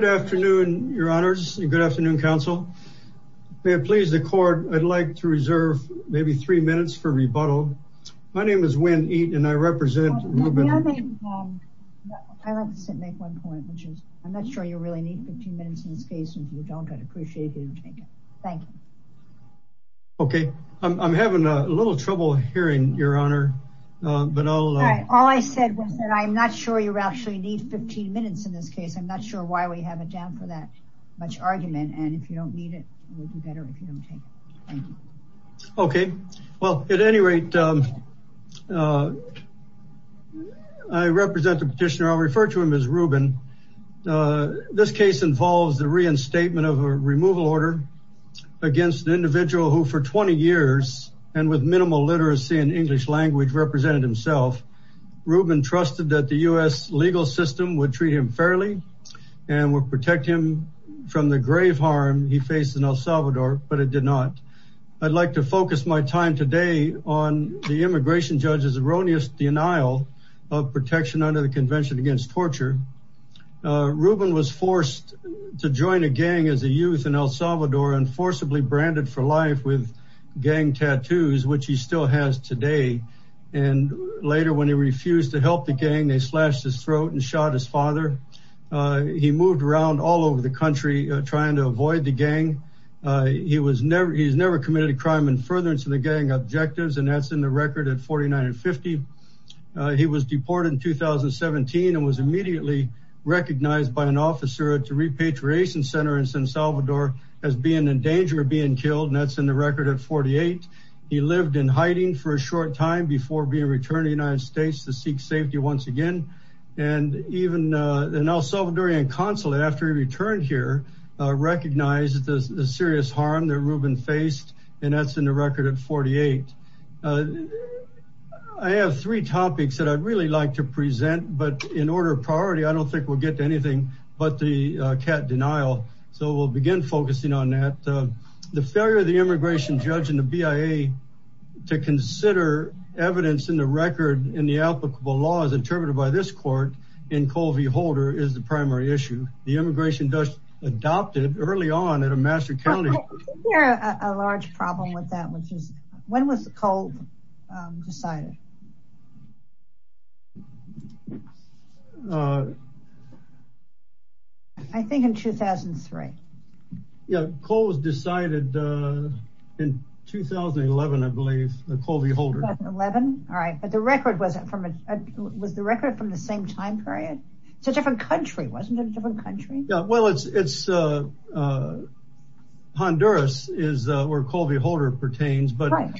Good afternoon, your honors, and good afternoon, counsel. May it please the court, I'd like to reserve maybe three minutes for rebuttal. My name is Winn Eaton, and I represent Ruben Huezo-Cedillos v. Robert Wilkinson. I'd like to make one point, which is I'm not sure you really need 15 minutes in this case, and if you don't, I'd appreciate it if you didn't take it. Thank you. Okay, I'm having a little trouble hearing, your honor, but I'll... All I said was that I'm not sure you actually need 15 minutes in this case. I'm not sure why we have it down for that much argument, and if you don't need it, it would be better if you don't take it. Thank you. Okay, well, at any rate, I represent the petitioner. I'll refer to him as Ruben. This case involves the reinstatement of a removal order against an individual who for 20 years, and with minimal literacy in English language, represented himself. Ruben trusted that the U.S. legal system would treat him fairly and would protect him from the grave harm he faced in El Salvador, but it did not. I'd like to focus my time today on the immigration judge's erroneous denial of protection under the Convention Against Torture. Ruben was forced to join a gang as a youth in El Salvador, and forcibly branded for life with gang tattoos, which he still has today. And later, when he refused to help the gang, they slashed his throat and shot his father. He moved around all over the country trying to avoid the gang. He's never committed a crime in furtherance of the gang objectives, and that's in the record at 49 and 50. He was deported in 2017 and was immediately recognized by an officer at the Repatriation Center in San Salvador as being in danger of being killed, and that's in the record at 48. He lived in hiding for a short time before being returned to the United States to seek safety once again. And even the El Salvadorian consulate, after he returned here, recognized the serious harm that Ruben faced, and that's in the record at 48. I have three topics that I'd really like to present, but in order of priority, I don't think we'll get to anything but the I've been focusing on that. The failure of the immigration judge and the BIA to consider evidence in the record in the applicable laws interpreted by this court in Covey Holder is the primary issue. The immigration judge adopted early on at a master county. I think there's a large problem with that. When was Covey decided? I think in 2003. Yeah, Covey was decided in 2011, I believe, at Covey Holder. 2011? All right, but was the record from the same time period? It's a different country, wasn't it? Yeah, well, it's Honduras is where Covey Holder pertains. So I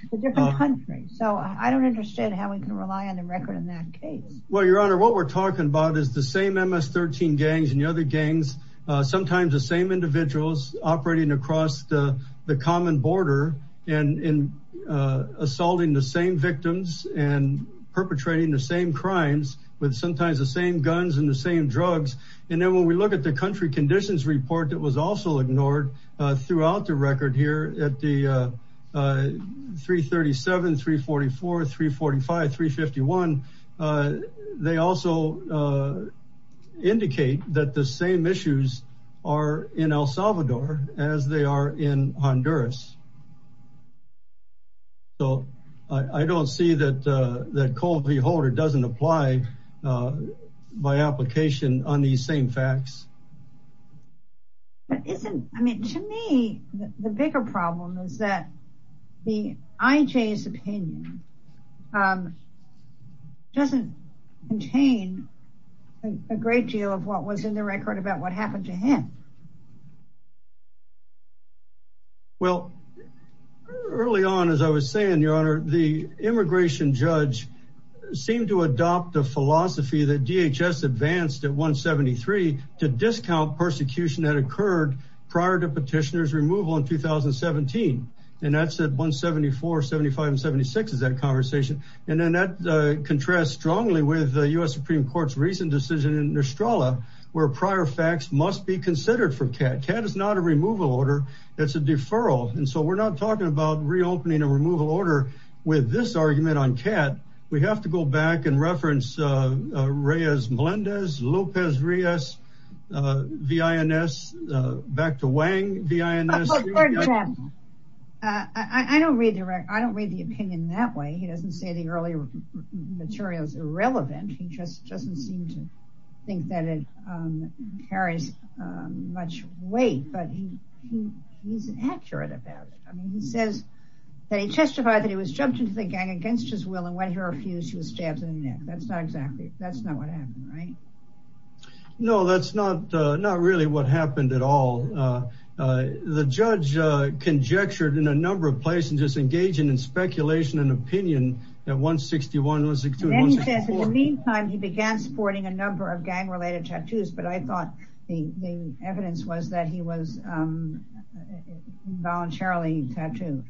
don't understand how we can rely on the record in that case. Well, Your Honor, what we're talking about is the same MS-13 gangs and the other gangs, sometimes the same individuals operating across the common border and assaulting the same victims and perpetrating the same crimes with sometimes the same guns and the same drugs. And then when we look at the country conditions report that was also ignored throughout the record here at the 337, 344, 345, 351, they also indicate that the same issues are in El Salvador as they are in Honduras. But isn't, I mean, to me, the bigger problem is that the IJ's opinion doesn't contain a great deal of what was in the record about what happened to him. Well, early on, as I was saying, Your Honor, the immigration judge seemed to adopt a philosophy that DHS advanced at 173 to discount persecution that occurred prior to petitioner's removal in 2017. And that's at 174, 75, and 76 is that conversation. And then that contrasts strongly with the U.S. Supreme Court's recent decision in Nostralla, where prior facts must be considered for CAT. CAT is not a removal order, it's a deferral. And so we're not talking about reopening a removal order with this argument on CAT. We have to go back and reference Reyes-Melendez, Lopez-Reyes, V.I.N.S., back to Wang, V.I.N.S. I don't read the opinion that way. He doesn't say the earlier material is irrelevant. He just doesn't seem to think that it carries much weight. But he's accurate about it. I mean, he says that he testified that he was jumped into the gang against his will and when he refused, he was stabbed in the neck. That's not exactly, that's not what happened, right? No, that's not really what happened at all. The judge conjectured in a number of places, just engaging in speculation and opinion at 161, 162, 164. In the meantime, he began supporting a number of gang-related tattoos. But I thought the evidence was that he was voluntarily tattooed.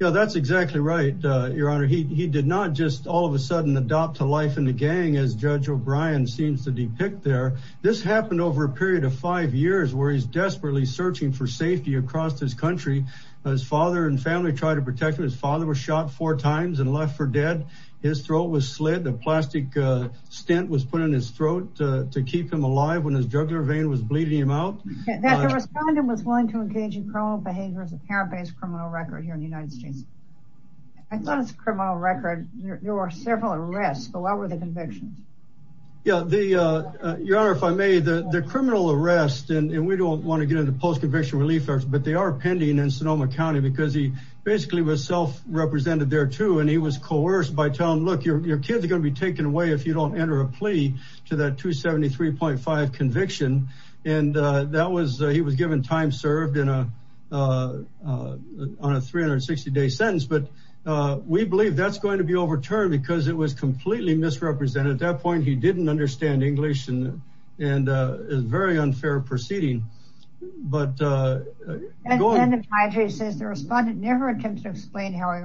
Yeah, that's exactly right, Your Honor. He did not just all of a sudden adopt a life in the gang as Judge O'Brien seems to depict there. This happened over a period of five years where he's desperately searching for safety across this country. His father and family tried to protect him. His father was shot four times and left for dead. His throat was slid. A plastic stent was put in his throat to keep him alive when his jugular vein was bleeding him out. That the respondent was willing to engage in criminal behavior is a parent-based criminal record here in the United States. I thought it's a criminal record. There were several arrests, but what were the convictions? Yeah, Your Honor, if I may, the criminal arrest, and we don't want to get into post-conviction relief efforts, but they are pending in Sonoma County because he basically was self-represented there, too, and he was coerced by telling, look, your kids are taken away if you don't enter a plea to that 273.5 conviction, and he was given time served on a 360-day sentence, but we believe that's going to be overturned because it was completely misrepresented. At that point, he didn't understand English and it was a very unfair proceeding, but... The respondent never attempted to explain how he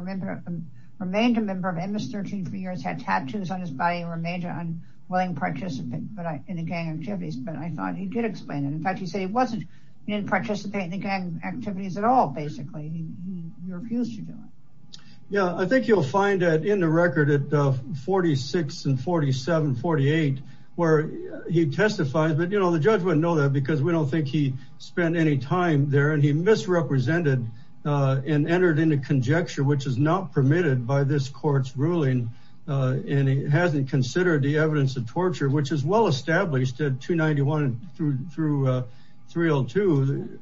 remained a member of MS-13 for years, had tattoos on his body, remained an unwilling participant in the gang activities, but I thought he did explain it. In fact, he said he didn't participate in the gang activities at all, basically. He refused to do it. Yeah, I think you'll find that in the record at 46 and 47, 48, where he testifies, but, you know, the judge wouldn't know that because we don't think he spent any time there, and he misrepresented and entered into conjecture, which is not permitted by this court's ruling, and he hasn't considered the evidence of torture, which is well established at 291 through 302,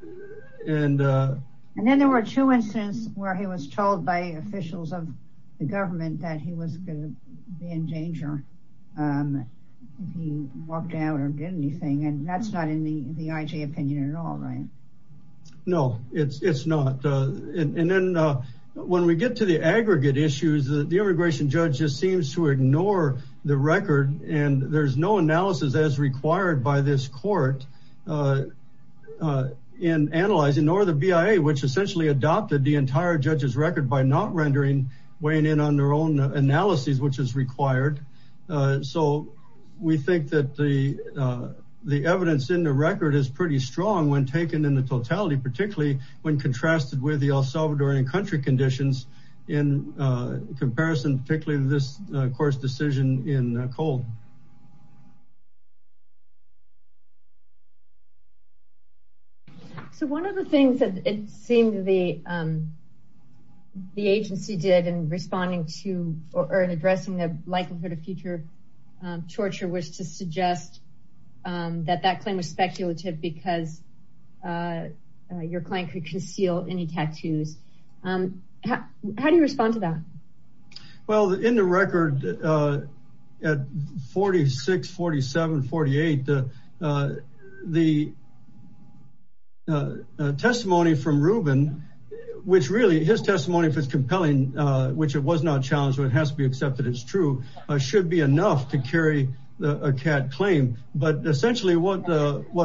and... And then there were two instances where he was told by officials of the government that he was going to be in danger if he walked out or did anything, and that's not the IJ opinion at all, right? No, it's not. And then when we get to the aggregate issues, the immigration judge just seems to ignore the record, and there's no analysis as required by this court in analyzing, nor the BIA, which essentially adopted the entire judge's record by not rendering, weighing in on their own analyses, which is required. So we think that the record is pretty strong when taken in the totality, particularly when contrasted with the El Salvadorian country conditions in comparison, particularly this court's decision in cold. So one of the things that it seemed the agency did in responding to, or in addressing the record, was to suggest that that claim was speculative because your client could conceal any tattoos. How do you respond to that? Well, in the record at 46, 47, 48, the testimony from Ruben, which really, his testimony, if it's compelling, which it was not but essentially what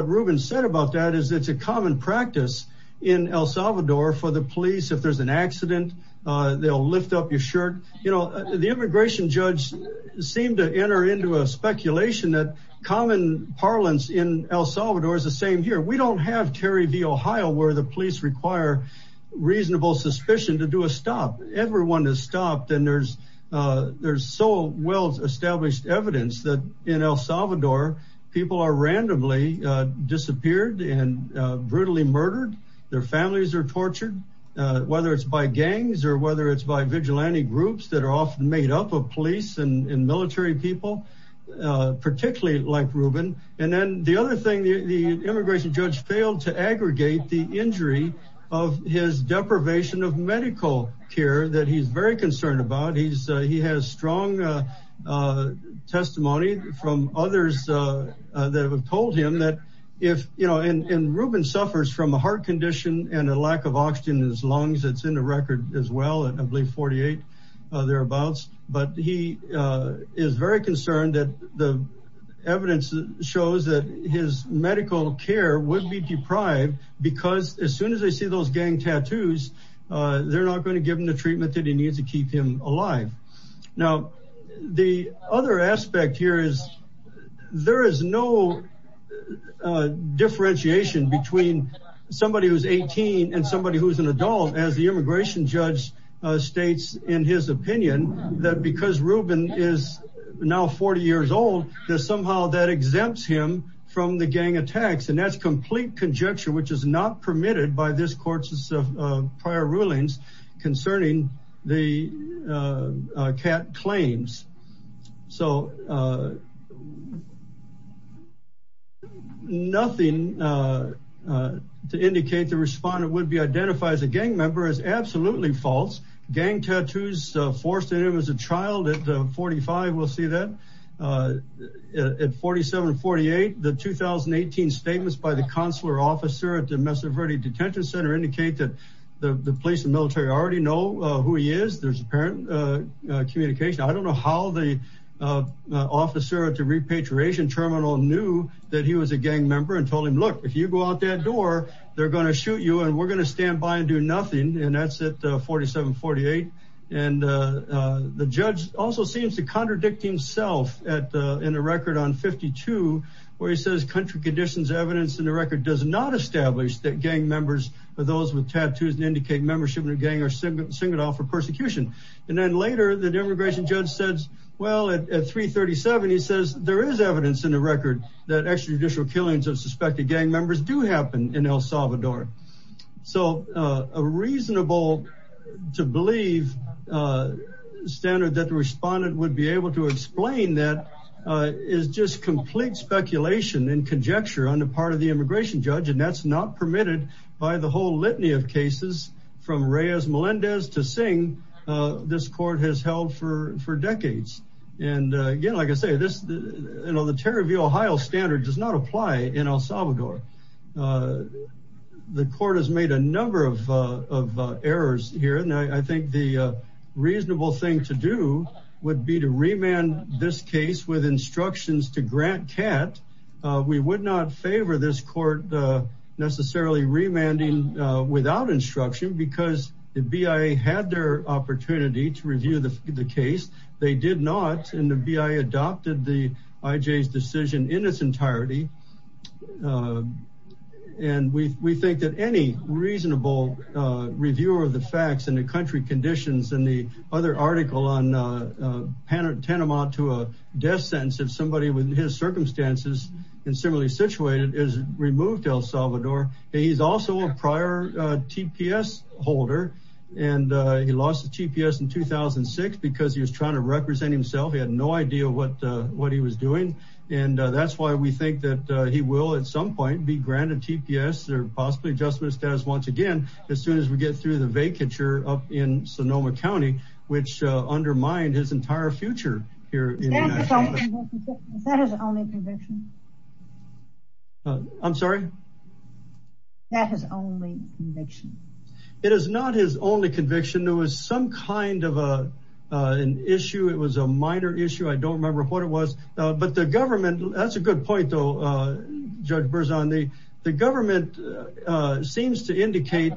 Ruben said about that is it's a common practice in El Salvador for the police. If there's an accident, they'll lift up your shirt. You know, the immigration judge seemed to enter into a speculation that common parlance in El Salvador is the same here. We don't have Terry v. Ohio where the police require reasonable suspicion to do a stop. Everyone is stopped and there's so well established evidence that in El Salvador, people are randomly disappeared and brutally murdered. Their families are tortured, whether it's by gangs or whether it's by vigilante groups that are often made up of police and military people, particularly like Ruben. And then the other thing, the immigration judge failed to aggregate the concern about. He has strong testimony from others that have told him that if, you know, and Ruben suffers from a heart condition and a lack of oxygen in his lungs, it's in the record as well, I believe 48 thereabouts, but he is very concerned that the evidence shows that his medical care would be deprived because as soon as they see those gang tattoos, they're not going to give the treatment that he needs to keep him alive. Now, the other aspect here is there is no differentiation between somebody who's 18 and somebody who's an adult as the immigration judge states in his opinion that because Ruben is now 40 years old, there's somehow that exempts him from the gang attacks. And that's complete conjecture, which is not permitted by this the CAT claims. So nothing to indicate the respondent would be identified as a gang member is absolutely false. Gang tattoos forced in him as a child at the 45, we'll see that at 47, 48, the 2018 statements by the consular officer at the Mesa Verde detention center indicate that the police and military already know who he is, there's apparent communication. I don't know how the officer at the repatriation terminal knew that he was a gang member and told him, look, if you go out that door, they're going to shoot you and we're going to stand by and do nothing. And that's at 47, 48. And the judge also seems to contradict himself at in the record on 52, where he says country conditions evidence in the record does not establish that gang members are those with tattoos and indicate membership in a gang or single singled off for persecution. And then later, the immigration judge says, well, at 337, he says there is evidence in the record that extrajudicial killings of suspected gang members do happen in El Salvador. So a reasonable to believe standard that the respondent would be able to explain that is just complete speculation and conjecture on the part of the immigration judge. And that's not permitted by the whole litany of cases from Reyes Melendez to sing. This court has held for decades. And again, like I say, this, you know, the terror of the Ohio standard does not apply in El Salvador. The court has made a number of errors here. And I think the reasonable thing to do would be to we would not favor this court necessarily remanding without instruction because the BIA had their opportunity to review the case. They did not. And the BIA adopted the IJ's decision in its entirety. And we think that any reasonable review of the facts and the country conditions and the other article on Panama to a death sentence of somebody with his circumstances and similarly situated is removed El Salvador. He's also a prior TPS holder. And he lost the TPS in 2006 because he was trying to represent himself. He had no idea what what he was doing. And that's why we think that he will at some point be granted TPS or possibly adjustment status once again, as soon as we get through the vacature up in Sonoma County, which undermined his entire future here. I'm sorry. It is not his only conviction. There was some kind of an issue. It was a minor issue. I don't remember what it was, but the government that's a good point, though, the government seems to indicate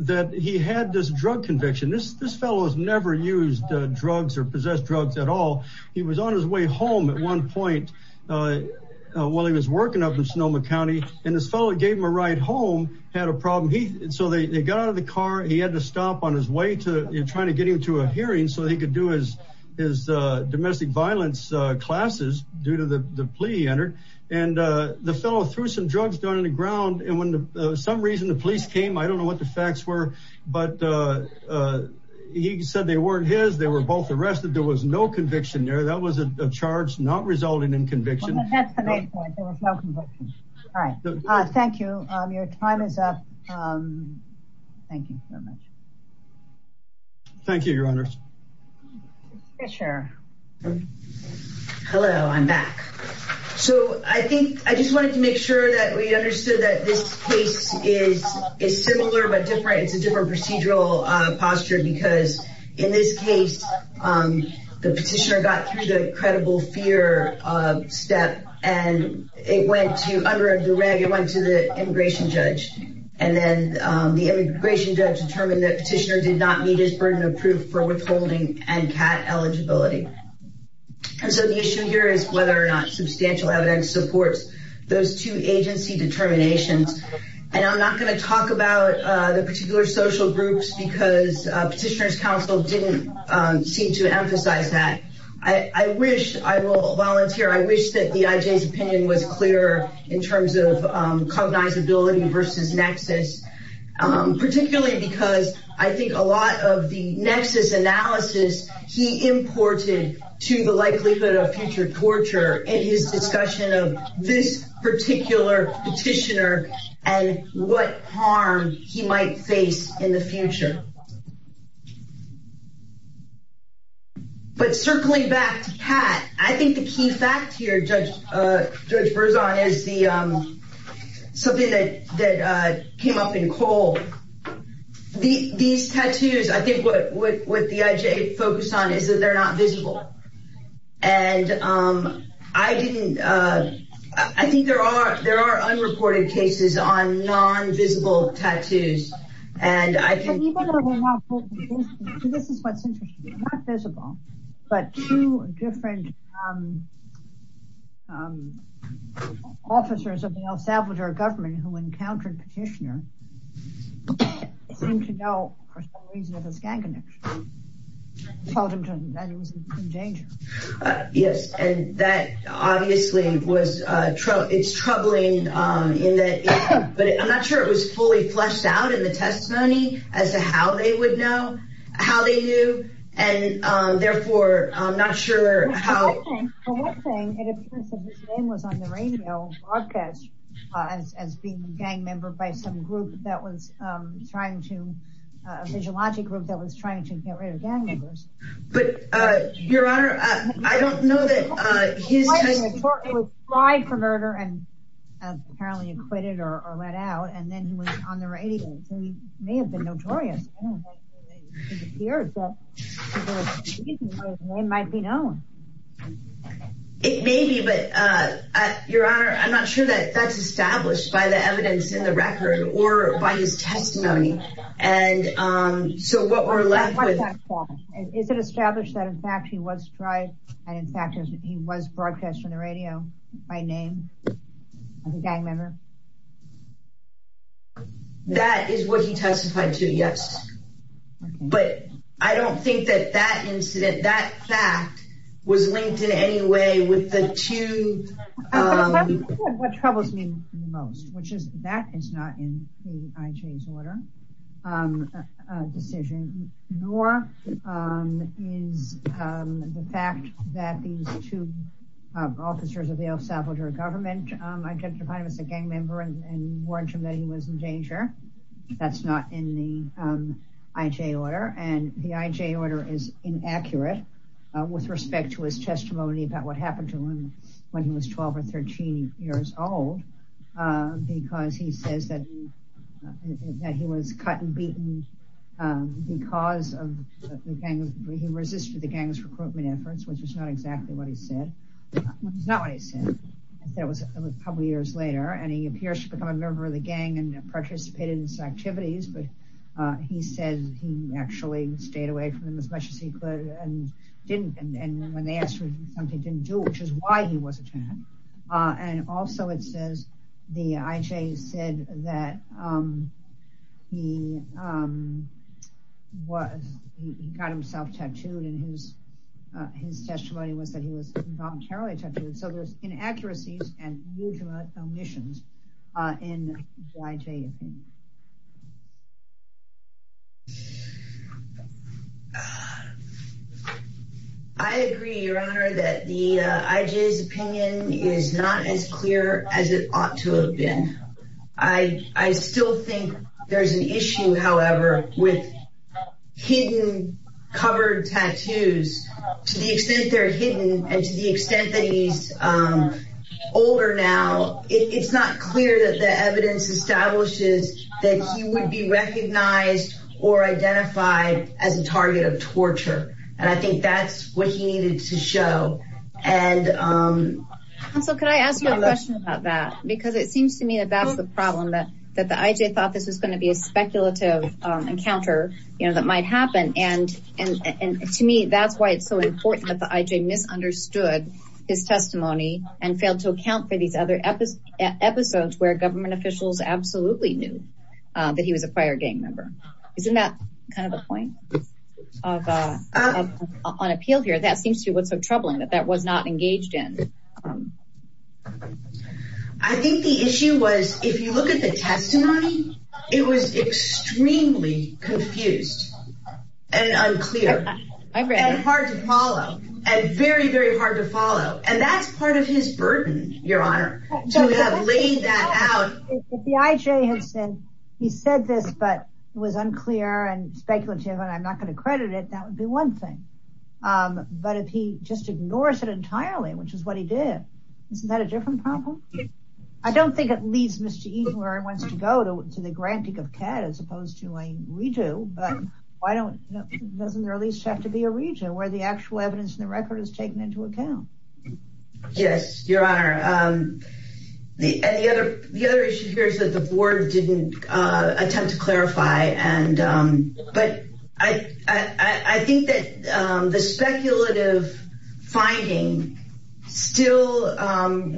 that he had this drug conviction. This fellow has never used drugs or possessed drugs at all. He was on his way home at one point while he was working up in Sonoma County. And this fellow gave him a ride home, had a problem. So they got out of the car. He had to stop on his way to try to get him to a hearing so he could do his domestic violence classes due to the plea he entered. And the fellow threw some drugs down on the ground. And when some reason the police came, I don't know what the facts were, but he said they weren't his. They were both arrested. There was no conviction there. That was a charge not resulting in conviction. There was no conviction. All right. Thank you. Your time is up. Thank you so much. Thank you, Your Honor. Mr. Fisher. Hello, I'm back. So I think I just wanted to make sure that we understood that this case is similar but different. It's a different procedural posture because in this case, the petitioner got through the credible fear step and it went to the immigration judge. And then the immigration judge determined that petitioner did not meet his burden of proof for withholding and cat eligibility. And so the issue here is whether or not substantial evidence supports those two agency determinations. And I'm not going to talk about the particular social groups because petitioner's counsel didn't seem to emphasize that. I wish, I will volunteer, I wish that the IJ's opinion was clearer in terms of cognizability versus nexus, particularly because I think a lot of the nexus analysis he imported to the likelihood of future torture in his discussion of this particular petitioner and what harm he might have done. Judge Berzon is something that came up in Cole. These tattoos, I think what the IJ focused on is that they're not visible. And I didn't, I think there are unreported cases on non-visible tattoos. And I think this is what's interesting, not visible, but two different officers of the El Salvador government who encountered petitioner seemed to know for some reason that it was gang connection, told him that it was in danger. Yes. And that obviously was troubling. It's troubling in that, but I'm not sure it was fully fleshed out in the testimony as to how they would know how they knew. And therefore, I'm not sure how. For one thing, it appears that his name was on the radio broadcast as being a gang member by some group that was trying to, a physiologic group that was trying to get rid of gang members. But Your Honor, I don't know that his... He was tried for murder and apparently acquitted or let out. And then he was on the radio. So he may have been notorious. I don't know. It appears that his name might be known. It may be, but Your Honor, I'm not sure that that's established by the evidence in the record or by his testimony. And so what we're left with... Is it established that in fact he was tried and in fact he was broadcast on the radio by name of a gang member? That is what he testified to, yes. But I don't think that that incident, that fact was linked in any way with the two... What troubles me the most, which is that is not in the IJ's order, a decision, nor is the fact that these two officers of the El Salvador government identified him as a gang member and warned him that he was in danger. That's not in the IJ order. And the IJ order is inaccurate with respect to his testimony about what happened to him when he was 12 or 13 years old because he says that he was cut and beaten because he resisted the gang's recruitment efforts, which is not exactly what he said. It's not what he said. It was a couple of years later and he appears to become a member of the gang and participated in its activities. But he says he actually stayed away from them as much as he could and didn't. And when they asked him something he didn't do, which is why he was attacked. And also it says the IJ said that he got himself tattooed and his testimony was that he was involuntarily tattooed. So there's inaccuracies and mutual omissions in the IJ opinion. I agree, Your Honor, that the IJ's opinion is not as clear as it ought to have been. I still think there's an issue, however, with hidden covered tattoos. To the extent they're hidden and to the extent that he's older now, it's not clear that the evidence establishes that he would be recognized or identified as a target of torture. And I think that's what he needed to show. Counsel, could I ask you a question about that? Because it seems to me that that's the problem, that the IJ thought this was going to be a speculative encounter that might happen. And to me, that's why it's so important that the IJ misunderstood his testimony and failed to account for these other episodes where government officials absolutely knew that he was a prior gang member. Isn't that kind of the point on appeal here? That seems to be what's so troubling that that was not engaged in. I think the issue was, if you look at the testimony, it was extremely confused and unclear and hard to follow and very, very hard to follow. And that's part of his burden, Your Honor, to have laid that out. If the IJ had said, he said this, but it was unclear and speculative and I'm not going to credit it, that would be one thing. But if he just ignores it isn't that a different problem? I don't think it leads Mr. Eaton where he wants to go to the granting of CAT as opposed to a redo. But why doesn't there at least have to be a redo where the actual evidence in the record is taken into account? Yes, Your Honor. The other issue here is that the board didn't attempt to clarify. But I think that the speculative finding still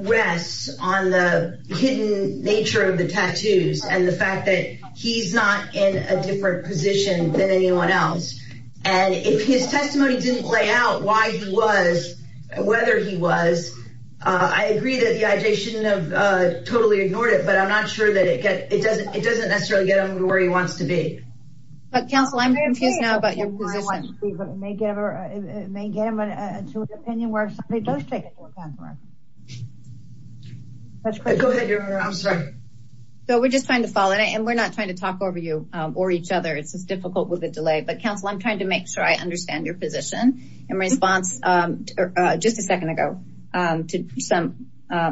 rests on the hidden nature of the tattoos and the fact that he's not in a different position than anyone else. And if his testimony didn't play out why he was, whether he was, I agree that the IJ shouldn't have totally ignored it, but I'm not sure that it doesn't necessarily get him to where he wants to be. But counsel, I'm confused now about your position. It may get him to an opinion where somebody does take it to account for it. Go ahead, Your Honor. I'm sorry. So we're just trying to follow and we're not trying to talk over you or each other. It's just difficult with a delay. But counsel, I'm trying to make sure I understand your position. In response, just a second ago, to some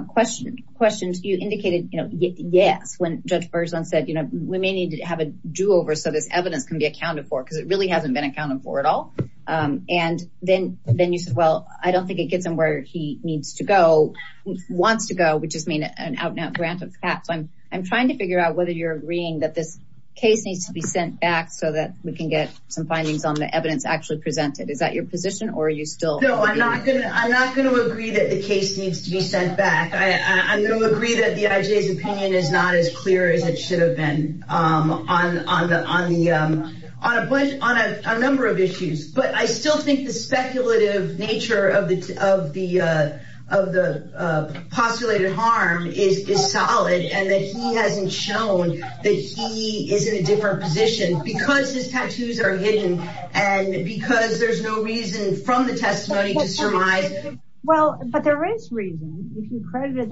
questions, you indicated, you know, yes, when Judge Berzon said, you know, we may need to have a do-over so this evidence can be accounted for because it really hasn't been accounted for at all. And then then you said, well, I don't think it gets him where he needs to go, wants to go. We just mean an out and out grant of that. So I'm trying to figure out whether you're agreeing that this case needs to be sent back so that we can get some findings on the evidence actually presented. Is that your position or are you still? No, I'm not. I'm not going to agree that the case needs to be sent back. I'm going to agree that the IJ's opinion is not as on a number of issues. But I still think the speculative nature of the postulated harm is solid and that he hasn't shown that he is in a different position because his tattoos are hidden and because there's no reason from the testimony to surmise. Well, but there is reason if you make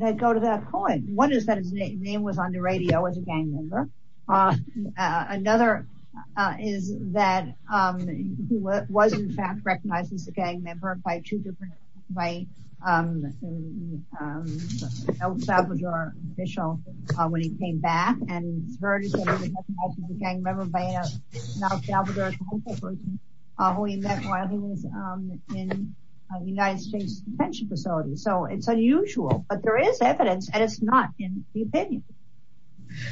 them go to that point. One is that his name was on the radio as a gang member. Another is that he was in fact recognized as a gang member by two different, by El Salvador official when he came back and he was recognized as a gang member by an El Salvador person who he met while he was in the United States detention facility. So it's unusual, but there is evidence and it's not in the opinion.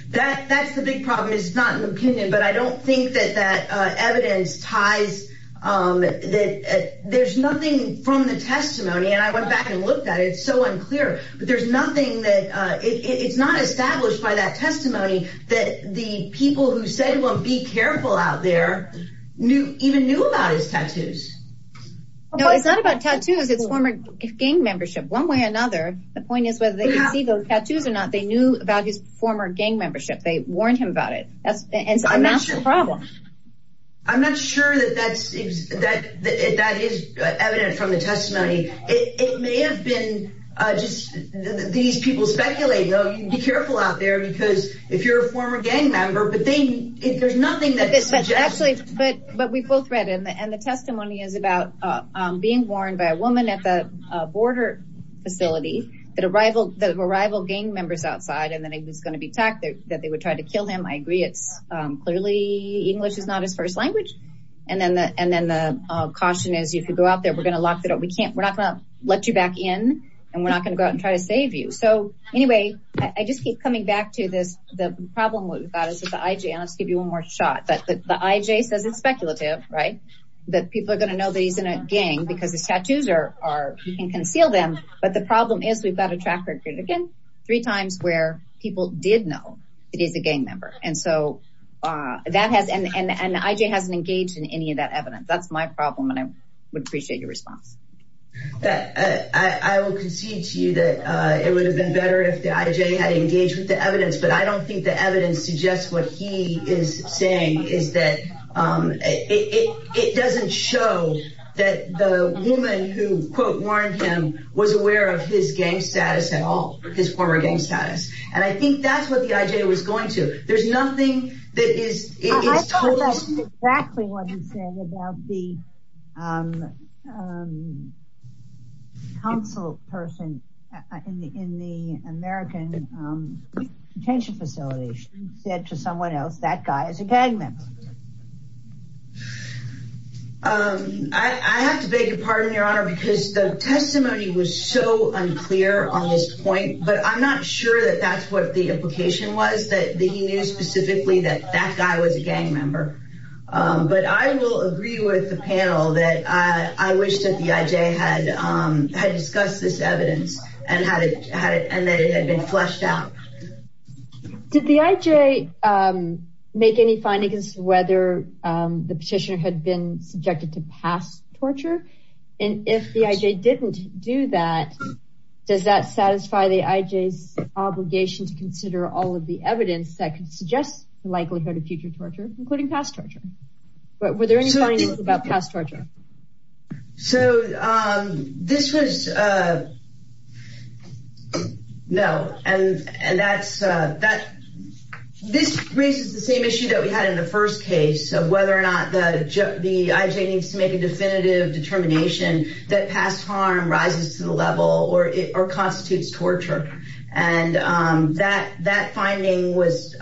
That's the big problem. It's not an opinion, but I don't think that that evidence ties, that there's nothing from the testimony and I went back and looked at it. It's so unclear, but there's nothing that it's not established by that even knew about his tattoos. No, it's not about tattoos. It's former gang membership. One way or another, the point is whether they can see those tattoos or not, they knew about his former gang membership. They warned him about it. That's a massive problem. I'm not sure that that's, that is evident from the testimony. It may have been just these people speculate, though you be careful out there because if you're a former gang member, but they, if there's nothing that actually, but, but we both read in the, and the testimony is about being warned by a woman at the border facility that arrival, the arrival gang members outside. And then it was going to be tacked that they would try to kill him. I agree. It's clearly English is not his first language. And then the, and then the caution is you could go out there. We're going to lock it up. We can't, we're not going to let you back in and we're not going to go out and try to save you. So anyway, I just keep coming back to this. The problem with that is that let's give you one more shot that the IJ says it's speculative, right? That people are going to know that he's in a gang because his tattoos are, are, you can conceal them. But the problem is we've got a track record again, three times where people did know it is a gang member. And so that has, and the IJ hasn't engaged in any of that evidence. That's my problem. And I would appreciate your response. I will concede to you that it would have been better if the IJ had engaged with the evidence, but I don't think the evidence suggests what he is saying is that it doesn't show that the woman who quote, warned him was aware of his gang status at all, his former gang status. And I think that's what the IJ was going to. There's nothing that is, it is totally. I think that's exactly what he said about the council person in the, in the American detention facility. He said to someone else, that guy is a gang member. I have to beg your pardon, your honor, because the testimony was so unclear on this point, but I'm not sure that that's what the implication was that he knew specifically that that guy was a gang member. But I will agree with the panel that I wish that the IJ had discussed this evidence and that it had been fleshed out. Did the IJ make any findings whether the petitioner had been subjected to past torture? And if the IJ didn't do that, does that satisfy the IJ's obligation to consider all of the evidence that could suggest the likelihood of future torture, including past torture? But were there any findings about past torture? So this was, no, and, and that's, that this raises the same issue that we had in the first case of whether or not the IJ needs to make a definitive determination that past harm rises to the that finding was,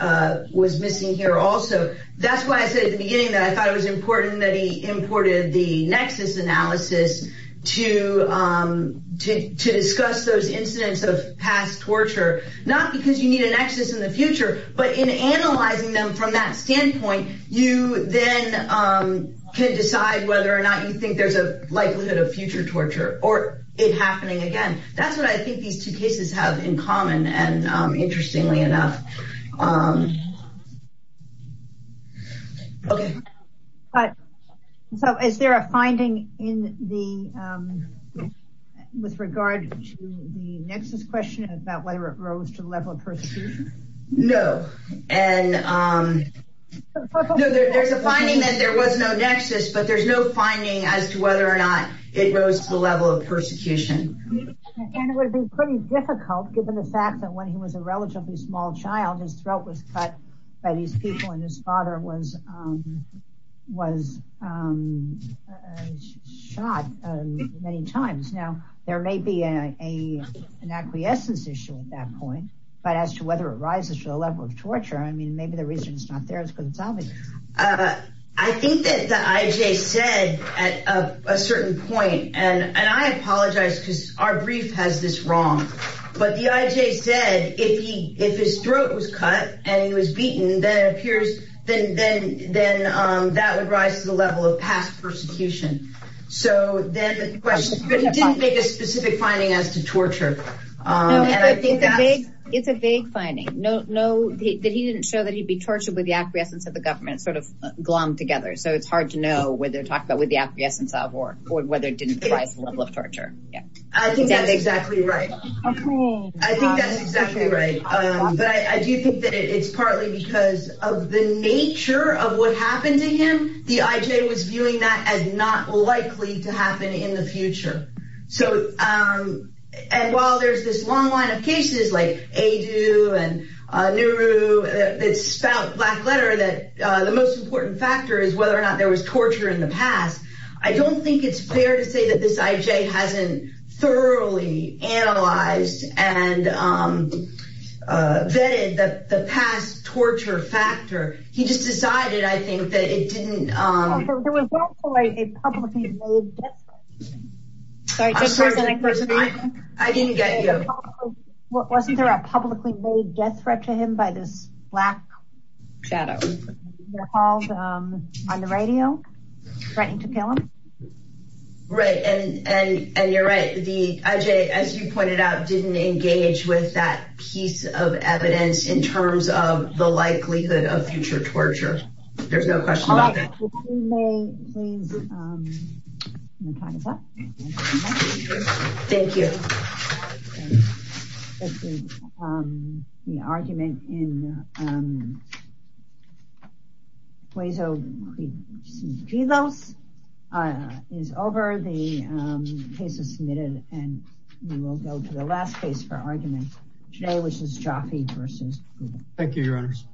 was missing here also. That's why I said at the beginning that I thought it was important that he imported the nexus analysis to, to discuss those incidents of past torture, not because you need a nexus in the future, but in analyzing them from that standpoint, you then can decide whether or not you think there's a likelihood of future torture or it happening again. That's what I think these two cases have in common. And interestingly enough. Okay. But so is there a finding in the, with regard to the nexus question about whether it rose to the level of persecution? No. And no, there's a finding that there was no nexus, but there's no finding as to whether or not it goes to the level of persecution. And it would be pretty difficult given the fact that when he was a relatively small child, his throat was cut by these people and his father was, was shot many times. Now there may be a, a, an acquiescence issue at that point, but as to whether it rises to the level of torture, I mean, maybe the reason it's not there is because it's obvious. I think that the IJ said at a certain point, and I apologize because our brief has this wrong, but the IJ said, if he, if his throat was cut and he was beaten, then it appears, then, then, then that would rise to the level of past persecution. So then the question didn't make a specific finding as to torture with the acquiescence of the government sort of glommed together. So it's hard to know whether to talk about with the acquiescence of or whether it didn't rise to the level of torture. Yeah. I think that's exactly right. I think that's exactly right. But I do think that it's partly because of the nature of what happened to him. The IJ was viewing that as not likely to happen in the future. So, and while there's this long line of cases like AIDU and NURU that spout black letter that the most important factor is whether or not there was torture in the past. I don't think it's fair to say that this IJ hasn't thoroughly analyzed and vetted the past torture factor. He just decided, I think, that it didn't, um, wasn't there a publicly made death threat to him by this black shadow on the radio? Right. And, and, and you're right. The IJ, as you pointed out, didn't engage with that piece of evidence in terms of the likelihood of future torture. There's no question about that. Thank you. The argument in which is Jaffe versus Google. Thank you, your honors.